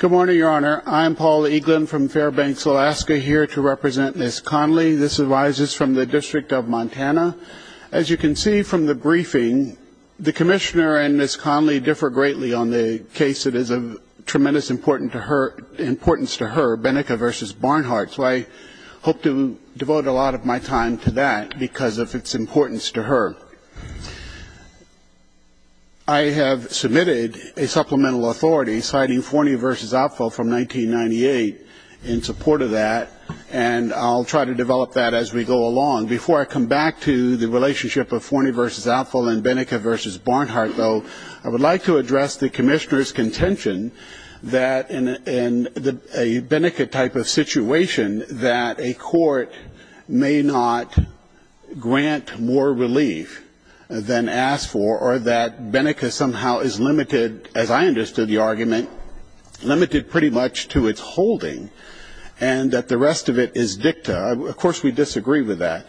Good morning, Your Honor. I am Paul Eaglin from Fairbanks, Alaska, here to represent Ms. Conley. This arises from the District of Montana. As you can see from the briefing, the Commissioner and Ms. Conley differ greatly on the case that is of tremendous importance to her, Beneka v. Barnhart, so I hope to devote a lot of my time to that because of its importance to her. I have submitted a supplemental authority citing Forney v. Outfall from 1998 in support of that, and I'll try to develop that as we go along. Before I come back to the relationship of Forney v. Outfall and Beneka v. Barnhart, though, I would like to address the Commissioner's contention that in a Beneka type of situation, that a court may not grant more relief than asked for, or that Beneka somehow is limited, as I understood the argument, limited pretty much to its holding, and that the rest of it is dicta. Of course, we disagree with that.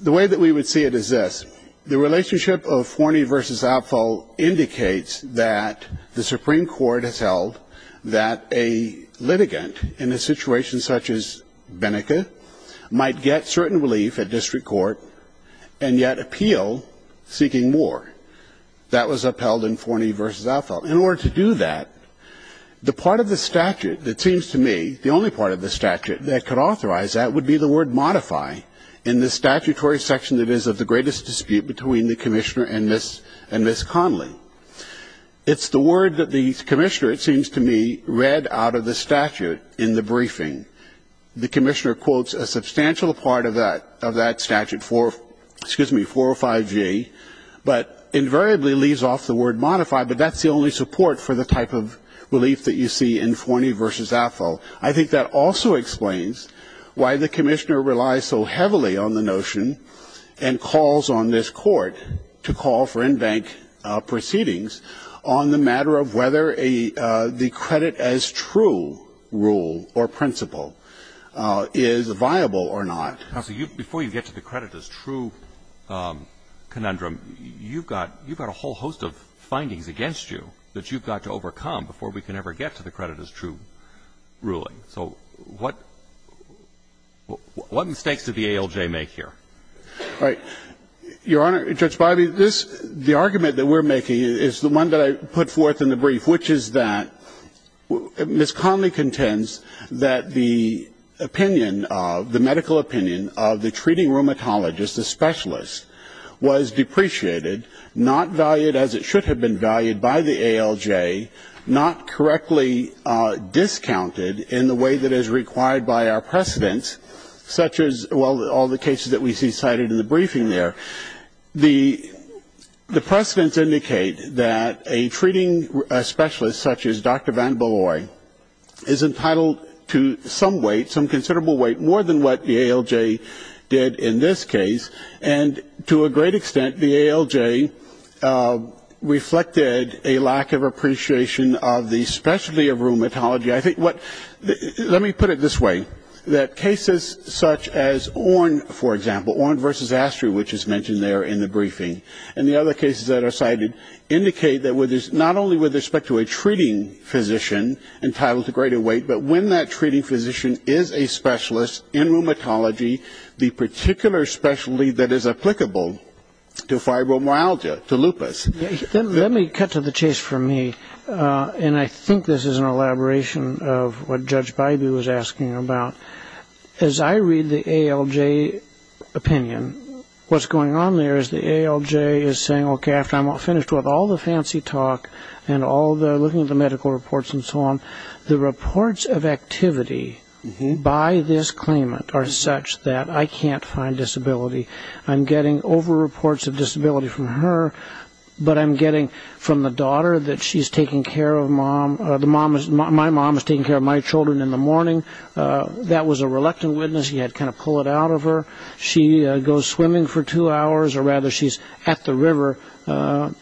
The way that we would see it is this. The relationship of Forney v. Outfall indicates that the Supreme Court has held that a litigant in a situation such as Beneka might get certain relief at district court and yet appeal seeking more. That was upheld in Forney v. Outfall. In order to do that, the part of the statute that seems to me, the only part of the statute that could authorize that would be the word modify in the statutory section that is of the greatest dispute between the Commissioner and Ms. Conley. It's the word that the Commissioner, it seems to me, read out of the statute in the briefing. The Commissioner quotes a substantial part of that statute, excuse me, 405G, but invariably leaves off the word modify, but that's the only support for the type of relief that you see in Forney v. Outfall. I think that also explains why the Commissioner relies so heavily on the notion and calls on this court to call for in-bank proceedings on the matter of whether a the credit as true rule or principle is viable or not. Counsel, before you get to the credit as true conundrum, you've got a whole host of findings against you that you've got to overcome before we can ever get to the credit as true ruling. So what mistakes did the ALJ make here? All right. Your Honor, Judge Biley, this, the argument that we're making is the one that I put forth in the brief, which is that Ms. Conley contends that the opinion of, the medical opinion of the treating rheumatologist, the specialist, was depreciated, not valued as it should have been valued by the ALJ, not correctly discounted in the way that is required by our precedents, such as, well, all the cases that we see cited in the briefing there. The precedents indicate that a treating specialist, such as Dr. Van Bolloy, is entitled to some weight, some considerable weight, more than what the ALJ did in this case. And to a great extent, the ALJ reflected a lack of appreciation of the specialty of rheumatology. I think what, let me put it this way, that cases such as Orne, for example, Orne versus Astrea, which is mentioned there in the briefing, and the other cases that are cited indicate that not only with respect to a treating physician entitled to greater weight, but when that treating physician is a specialist in rheumatology, the particular specialty that is applicable to fibromyalgia, to lupus. Let me cut to the chase for me, and I think this is an elaboration of what Judge Bybee was asking about. As I read the ALJ opinion, what's going on there is the ALJ is saying, okay, after I'm finished with all the fancy talk and looking at the medical reports and so on, the reports of activity by this claimant are such that I can't find disability. I'm getting over reports of disability from her, but I'm getting from the daughter that she's taking care of mom. My mom is taking care of my children in the morning. That was a reluctant witness. He had to kind of pull it out of her. She goes swimming for two hours, or rather she's at the river.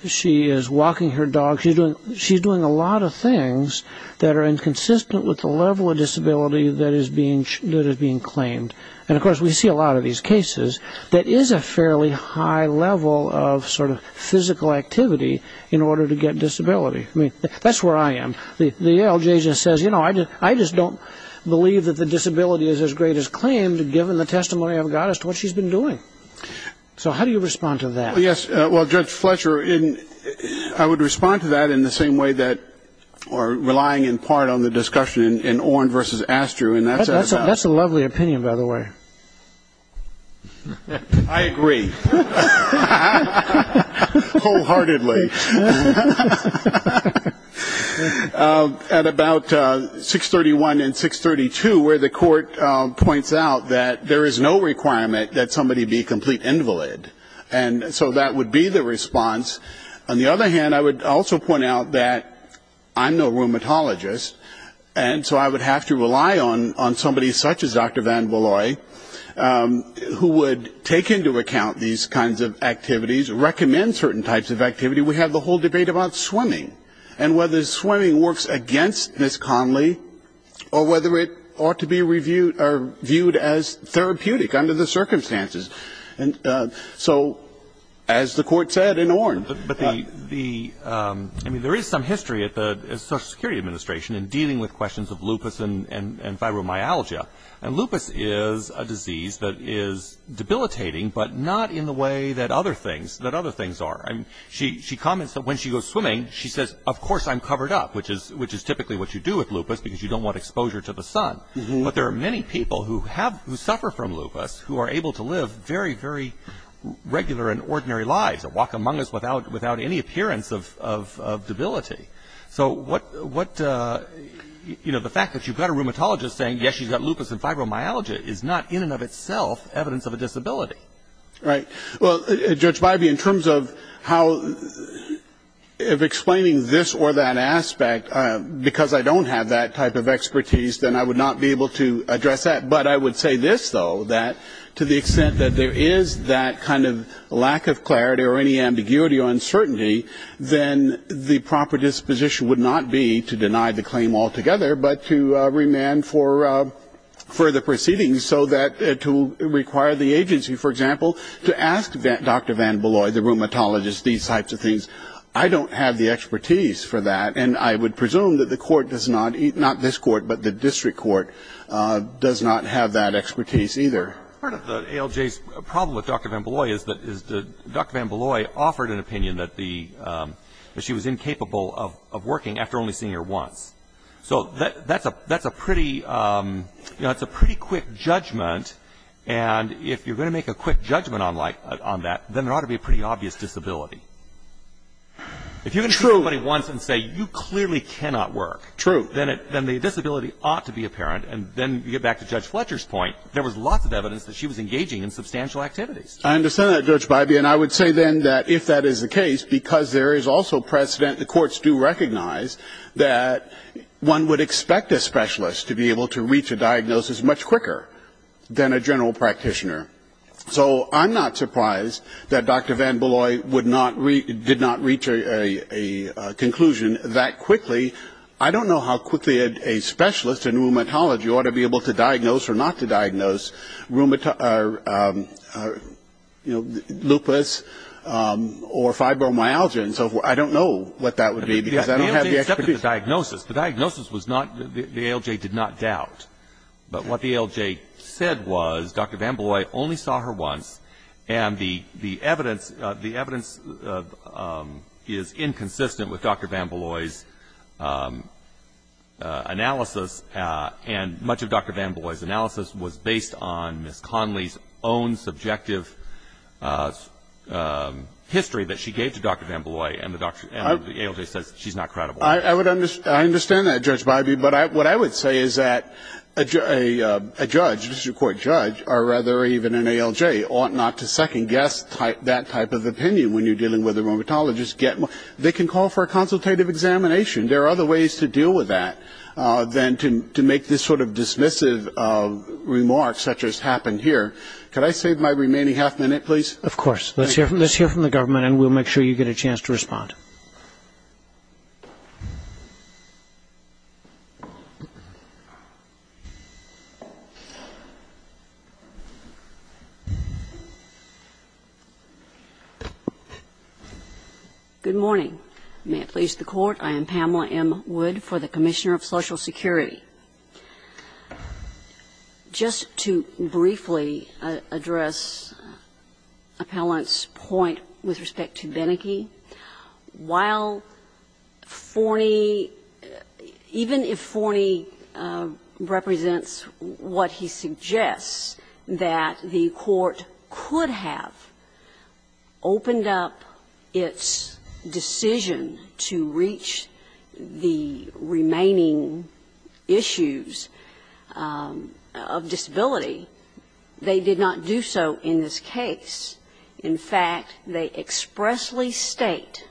She is walking her dog. She's doing a lot of things that are inconsistent with the level of disability that is being claimed. And, of course, we see a lot of these cases that is a fairly high level of sort of physical activity in order to get disability. I mean, that's where I am. The ALJ just says, you know, I just don't believe that the disability is as great as claimed, given the testimony I've got as to what she's been doing. So how do you respond to that? Well, Judge Fletcher, I would respond to that in the same way that or relying in part on the discussion in Oren versus Astru. That's a lovely opinion, by the way. I agree. Wholeheartedly. At about 631 and 632, where the court points out that there is no requirement that somebody be complete invalid. And so that would be the response. On the other hand, I would also point out that I'm no rheumatologist, and so I would have to rely on somebody such as Dr. Van Bolloy, who would take into account these kinds of activities, recommend certain types of activity. We have the whole debate about swimming and whether swimming works against Ms. Conley or whether it ought to be viewed as therapeutic under the circumstances. I mean, there is some history at the Social Security Administration in dealing with questions of lupus and fibromyalgia. And lupus is a disease that is debilitating, but not in the way that other things are. She comments that when she goes swimming, she says, of course I'm covered up, which is typically what you do with lupus because you don't want exposure to the sun. But there are many people who suffer from lupus who are able to live very, very regular and ordinary lives and walk among us without any appearance of debility. So what, you know, the fact that you've got a rheumatologist saying, yes, she's got lupus and fibromyalgia, is not in and of itself evidence of a disability. Right. Well, Judge Bybee, in terms of how, of explaining this or that aspect, because I don't have that type of expertise, then I would not be able to address that. But I would say this, though, that to the extent that there is that kind of lack of clarity or any ambiguity or uncertainty, then the proper disposition would not be to deny the claim altogether, but to remand for further proceedings so that it will require the agency, for example, to ask Dr. Van Bolloy, the rheumatologist, these types of things. I don't have the expertise for that. And I would presume that the court does not, not this court, but the district court does not have that expertise either. Part of the ALJ's problem with Dr. Van Bolloy is that Dr. Van Bolloy offered an opinion that she was incapable of working after only seeing her once. So that's a pretty quick judgment. And if you're going to make a quick judgment on that, then there ought to be a pretty obvious disability. If you can see somebody once and say you clearly cannot work, then the disability ought to be apparent. And then you get back to Judge Fletcher's point. There was lots of evidence that she was engaging in substantial activities. I understand that, Judge Bybee. And I would say then that if that is the case, because there is also precedent, the courts do recognize that one would expect a specialist to be able to reach a diagnosis much quicker than a general practitioner. So I'm not surprised that Dr. Van Bolloy did not reach a conclusion that quickly. I don't know how quickly a specialist in rheumatology ought to be able to diagnose or not to diagnose lupus or fibromyalgia and so forth. I don't know what that would be because I don't have the expertise. The ALJ accepted the diagnosis. The diagnosis was not, the ALJ did not doubt. But what the ALJ said was Dr. Van Bolloy only saw her once, and the evidence is inconsistent with Dr. Van Bolloy's analysis, and much of Dr. Van Bolloy's analysis was based on Ms. Conley's own subjective history that she gave to Dr. Van Bolloy, and the ALJ says she's not credible. I understand that, Judge Biby, but what I would say is that a judge, a district court judge, or rather even an ALJ ought not to second-guess that type of opinion when you're dealing with a rheumatologist. They can call for a consultative examination. There are other ways to deal with that than to make this sort of dismissive remark such as happened here. Could I save my remaining half minute, please? Of course. Let's hear from the government, and we'll make sure you get a chance to respond. Good morning. May it please the Court, I am Pamela M. Wood for the Commissioner of Social Security. Just to briefly address Appellant's point with respect to Beneke. While Forney, even if Forney represents what he suggests, that the Court could have opened up its decision to reach the remaining issues of disability, they did not do so in this case. In fact, they expressly state,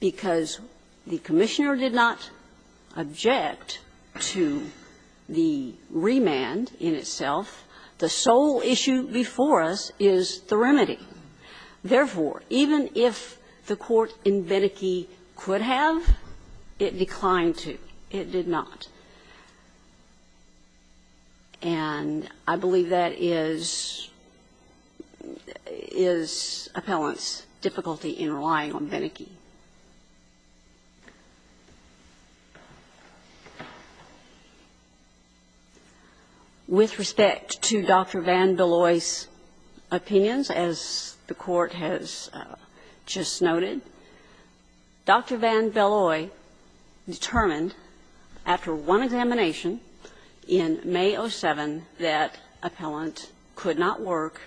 because the Commissioner did not object to the remand in itself, the sole issue before us is the remedy. Therefore, even if the Court in Beneke could have, it declined to. It did not. And I believe that is Appellant's difficulty in relying on Beneke. With respect to Dr. VanBelloy's opinions, as the Court has just noted, Dr. VanBelloy determined after one examination in May of 7 that Appellant could not work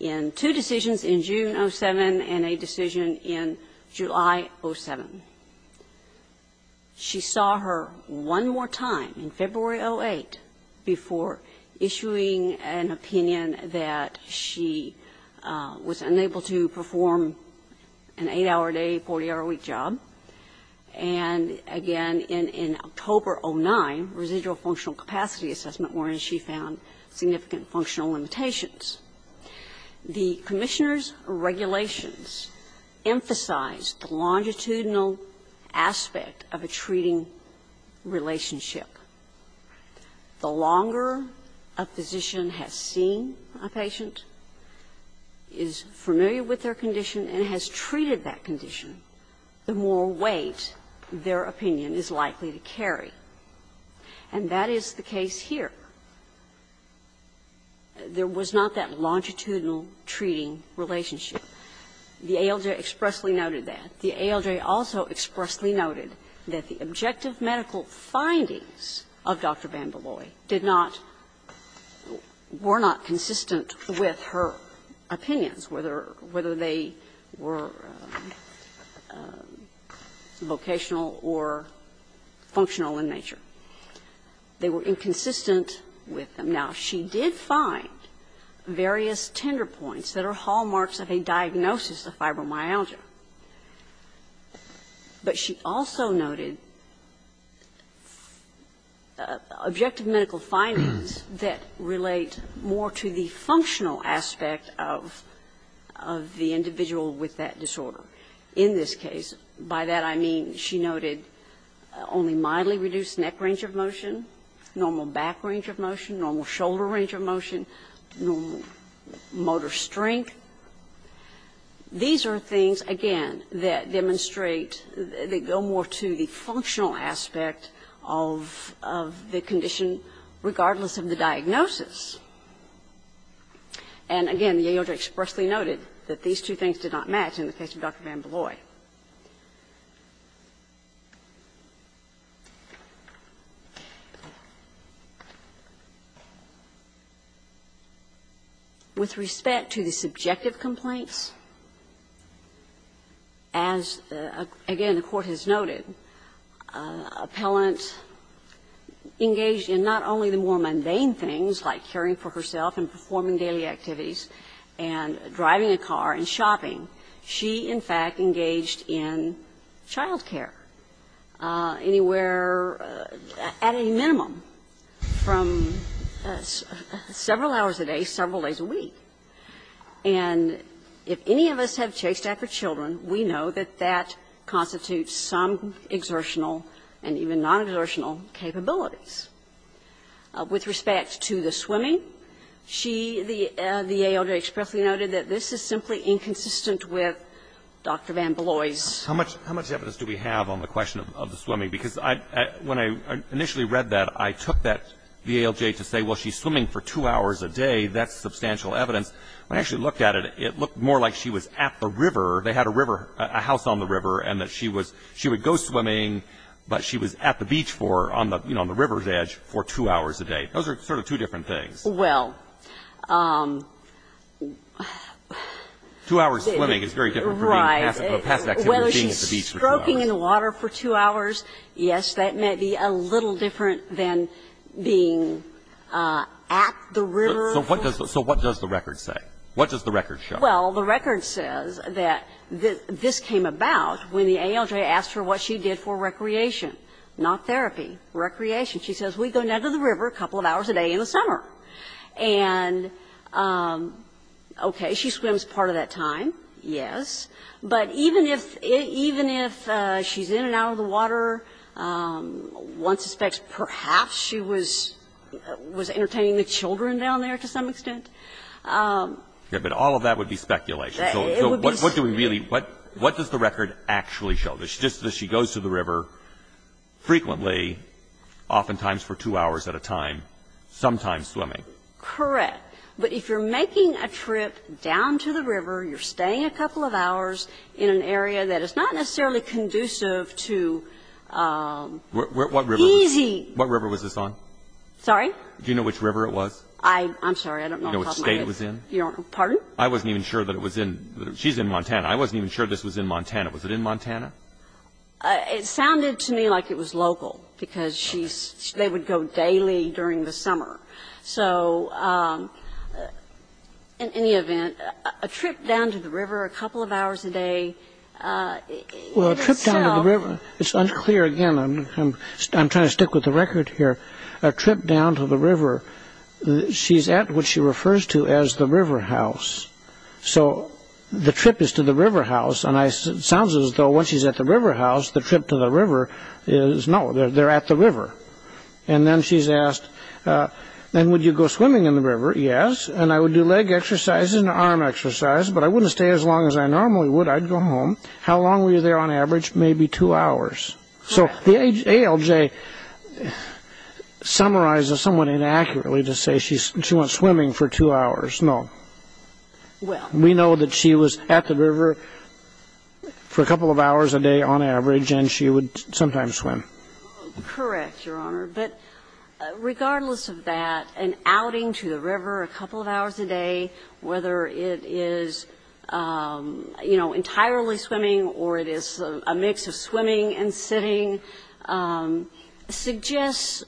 in two decisions in June of 7 and a decision in July of 7. She saw her one more time in February of 08 before issuing an opinion that she was unable to perform an 8-hour-a-day, 40-hour-a-week job. And again in October of 09, residual functional capacity assessment wherein she found significant functional limitations. The Commissioner's regulations emphasize the longitudinal aspect of a treating relationship. The longer a physician has seen a patient, is familiar with their condition and has treated that condition, the more weight their opinion is likely to carry. And that is the case here. There was not that longitudinal treating relationship. The ALJ expressly noted that. The ALJ also expressly noted that the objective medical findings of Dr. VanBelloy did not or were not consistent with her opinions, whether they were vocational or functional in nature. They were inconsistent with them. Now, she did find various tender points that are hallmarks of a diagnosis of fibromyalgia. But she also noted objective medical findings that relate more to the functional aspect of the individual with that disorder. In this case, by that I mean she noted only mildly reduced neck range of motion, normal back range of motion, normal shoulder range of motion, motor strength. These are things, again, that demonstrate, that go more to the functional aspect of the condition regardless of the diagnosis. And again, the ALJ expressly noted that these two things did not match in the case of Dr. VanBelloy. With respect to the subjective complaints, as, again, the Court has noted, an appellant engaged in not only the more mundane things like caring for herself and performing daily activities and driving a car and shopping, she instead of engaging in the more mundane things, she, in fact, engaged in child care anywhere at a minimum from several hours a day, several days a week. And if any of us have chased after children, we know that that constitutes some exertional and even non-exertional capabilities. With respect to the swimming, she, the ALJ expressly noted that this is simply inconsistent with Dr. VanBelloy's. How much evidence do we have on the question of the swimming? Because when I initially read that, I took that ALJ to say, well, she's swimming for two hours a day. That's substantial evidence. When I actually looked at it, it looked more like she was at the river. They had a river, a house on the river, and that she would go swimming, but she was at the beach for, on the river's edge, for two hours a day. Those are sort of two different things. Well. Two hours swimming is very different from being at the beach for two hours. Right. When she's stroking in the water for two hours, yes, that may be a little different than being at the river. So what does the record say? What does the record show? Well, the record says that this came about when the ALJ asked her what she did for recreation, not therapy, recreation. She says, we go down to the river a couple of hours a day in the summer. And, okay, she swims part of that time, yes. But even if she's in and out of the water, one suspects perhaps she was entertaining the children down there to some extent. Yeah, but all of that would be speculation. So what do we really, what does the record actually show? Does she go to the river frequently, oftentimes for two hours at a time, sometimes swimming? Correct. But if you're making a trip down to the river, you're staying a couple of hours in an area that is not necessarily conducive to easy. What river was this on? Sorry? Do you know which river it was? I'm sorry. I don't know which state it was in. Pardon? I wasn't even sure that it was in. She's in Montana. I wasn't even sure this was in Montana. Was it in Montana? It sounded to me like it was local, because she's, they would go daily during the summer. So in any event, a trip down to the river a couple of hours a day in itself. Well, a trip down to the river, it's unclear again. I'm trying to stick with the record here. A trip down to the river, she's at what she refers to as the river house. So the trip is to the river house, and it sounds as though when she's at the river house, the trip to the river is, no, they're at the river. And then she's asked, then would you go swimming in the river? Yes. And I would do leg exercise and arm exercise, but I wouldn't stay as long as I normally would. I'd go home. How long were you there on average? Maybe two hours. So the ALJ summarizes somewhat inaccurately to say she went swimming for two hours. No. Well. We know that she was at the river for a couple of hours a day on average, and she would sometimes swim. Correct, Your Honor. But regardless of that, an outing to the river a couple of hours a day, whether it is, you know, entirely swimming or it is a mix of swimming and sitting, suggests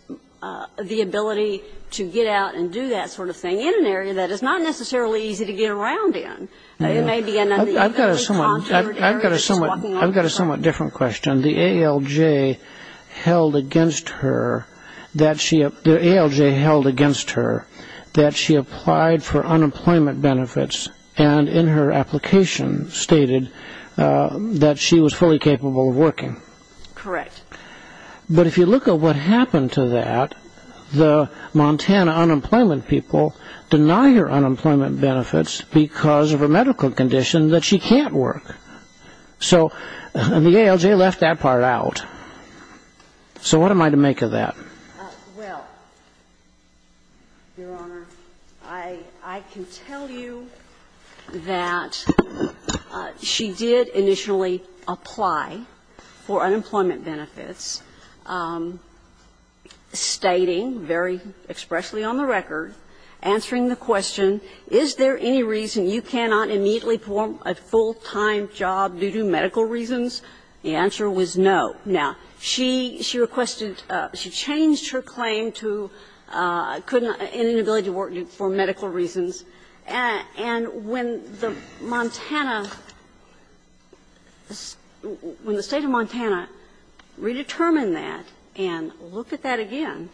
the ability to get out and do that sort of thing in an area that is not necessarily easy to get around in. I've got a somewhat different question. The ALJ held against her that she applied for unemployment benefits, and in her application stated that she was fully capable of working. Correct. But if you look at what happened to that, the Montana unemployment people deny her unemployment benefits because of her medical condition that she can't work. So the ALJ left that part out. So what am I to make of that? Well, Your Honor, I can tell you that she did initially apply for unemployment benefits, stating very expressly on the record, answering the question, is there any reason you cannot immediately perform a full-time job due to medical reasons? The answer was no. Now, she requested to change her claim to inability to work for medical reasons. And when the Montana – when the State of Montana redetermined that and looked at that again,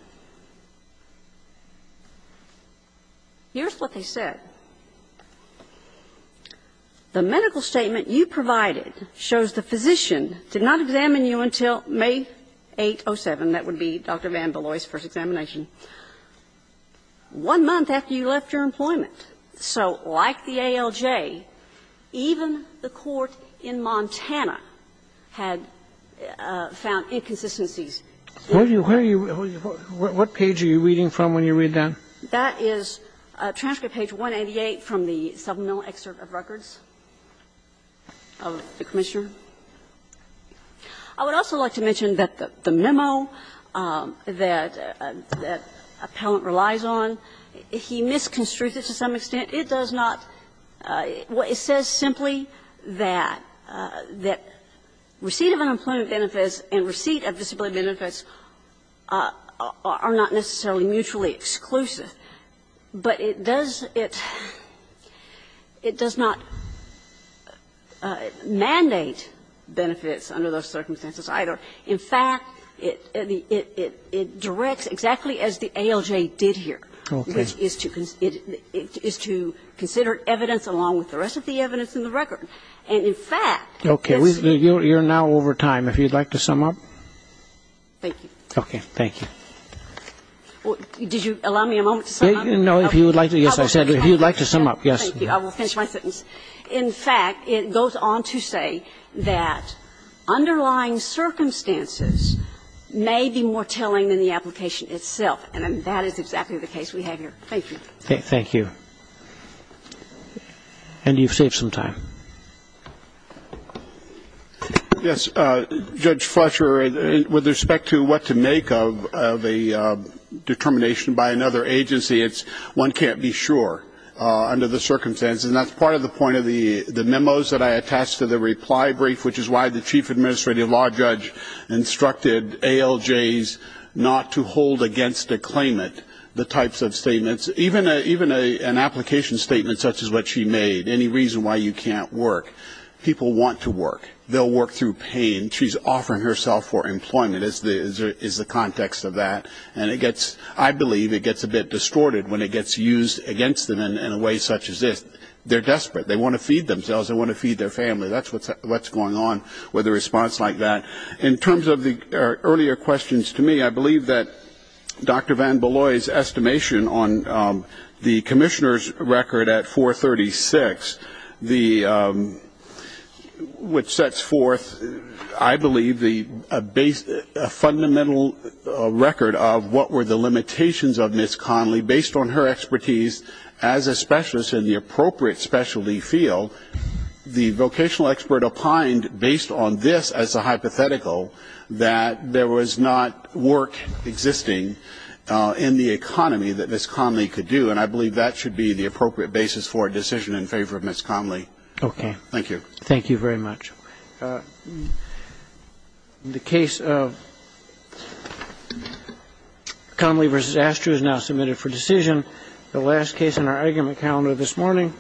here's what they said. The medical statement you provided shows the physician did not examine you until May 8, 07. That would be Dr. VanBeloy's first examination. One month after you left your employment. So like the ALJ, even the court in Montana had found inconsistencies. Where are you – what page are you reading from when you read that? That is transcript page 188 from the supplemental excerpt of records of the commissioner. I would also like to mention that the memo that appellant relies on, he misconstrues it to some extent. It does not – it says simply that receipt of unemployment benefits and receipt of disability benefits are not necessarily mutually exclusive. But it does – it does not mandate benefits under those circumstances either. In fact, it directs exactly as the ALJ did here. Okay. Which is to consider evidence along with the rest of the evidence in the record. And in fact – Okay. You're now over time. If you'd like to sum up? Thank you. Okay. Thank you. Did you allow me a moment to sum up? No, if you would like to. Yes, I said if you would like to sum up. Yes. Thank you. I will finish my sentence. In fact, it goes on to say that underlying circumstances may be more telling than the application itself. And that is exactly the case we have here. Thank you. Thank you. And you've saved some time. Yes, Judge Fletcher, with respect to what to make of a determination by another agency, it's one can't be sure under the circumstances. And that's part of the point of the memos that I attached to the reply brief, which is why the Chief Administrative Law Judge instructed ALJs not to hold against a claimant the types of statements. Even an application statement such as what she made, any reason why you can't work, people want to work. They'll work through pain. She's offering herself for employment is the context of that. And I believe it gets a bit distorted when it gets used against them in a way such as this. They're desperate. They want to feed themselves. They want to feed their family. That's what's going on with a response like that. In terms of the earlier questions to me, I believe that Dr. Van Beloy's estimation on the commissioner's record at 436, the which sets forth, I believe, the base fundamental record of what were the limitations of Miss Connelly based on her expertise as a specialist in the appropriate specialty field. The vocational expert opined, based on this as a hypothetical, that there was not work existing in the economy that Miss Connelly could do. And I believe that should be the appropriate basis for a decision in favor of Miss Connelly. Okay. Thank you. Thank you very much. The case of Connelly versus Astro is now submitted for decision. The last case in our argument calendar this morning.